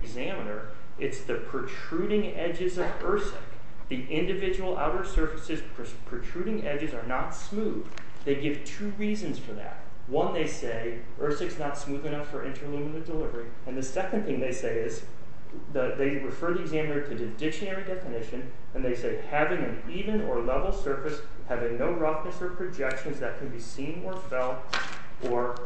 ...examiner, it's the protruding edges of ERSIC. The individual outer surfaces' protruding edges are not smooth. They give two reasons for that. One, they say, ERSIC's not smooth enough for interluminary delivery. And the second thing they say is, they refer the examiner to the dictionary definition, and they say, having an even or level surface, having no roughness or projections that can be seen or felt, or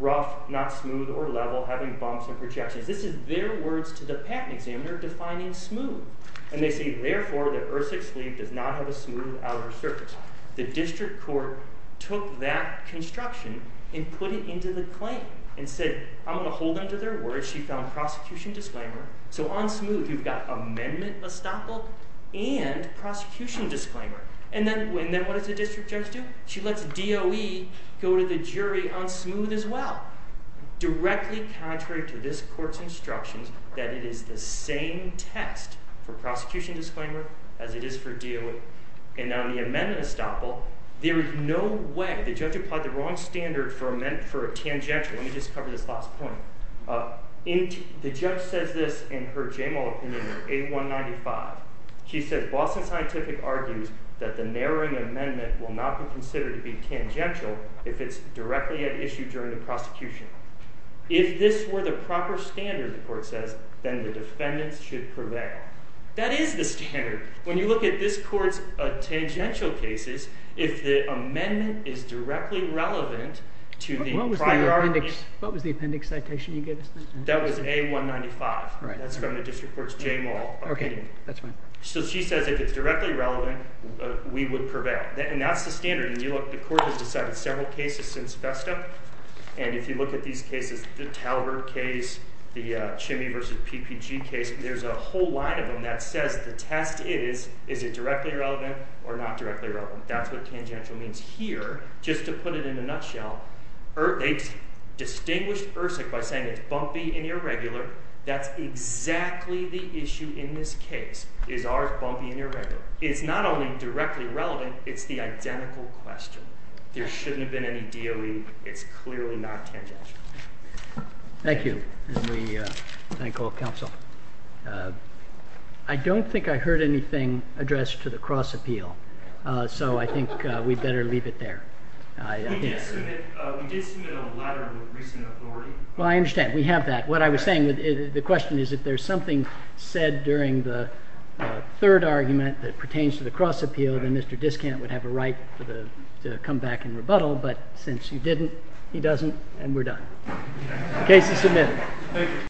rough, not smooth or level, having bumps and projections. This is their words to the patent examiner, defining smooth. And they say, therefore, the ERSIC sleeve does not have a smooth outer surface. The district court took that construction and put it into the claim, and said, I'm going to hold them to their word. She found prosecution disclaimer. So on smooth, you've got amendment estoppel and prosecution disclaimer. And then what does the district judge do? She lets DOE go to the jury on smooth as well. Directly contrary to this court's instructions, that it is the same test for prosecution disclaimer as it is for DOE. And on the amendment estoppel, there is no way. The judge applied the wrong standard for a tangential. Let me just cover this last point. The judge says this in her JMO opinion in 8195. She says, Boston Scientific argues that the narrowing amendment will not be considered to be tangential if it's directly at issue during the prosecution. If this were the proper standard, the court says, then the defendants should prevail. That is the standard. When you look at this court's tangential cases, if the amendment is directly relevant to the priorities. What was the appendix citation you gave us? That was A195. That's from the district court's JMO opinion. So she says if it's directly relevant, we would prevail. And that's the standard. The court has decided several cases since FESTA. And if you look at these cases, the Talbert case, the Chimney v. PPG case, there's a whole line of them that says the test is, is it directly relevant or not directly relevant? That's what tangential means. Here, just to put it in a nutshell, they distinguished ERSIC by saying it's bumpy and irregular. That's exactly the issue in this case. Is ours bumpy and irregular? It's not only directly relevant. It's the identical question. There shouldn't have been any DOE. It's clearly not tangential. Thank you. And we thank all counsel. I don't think I heard anything addressed to the cross appeal. So I think we'd better leave it there. We did submit a letter with recent authority. Well, I understand. We have that. What I was saying, the question is if there's something said during the third argument that pertains to the cross appeal, then Mr. Discant would have a right to come back and rebuttal. But since you didn't, he doesn't, and we're done. Case is submitted.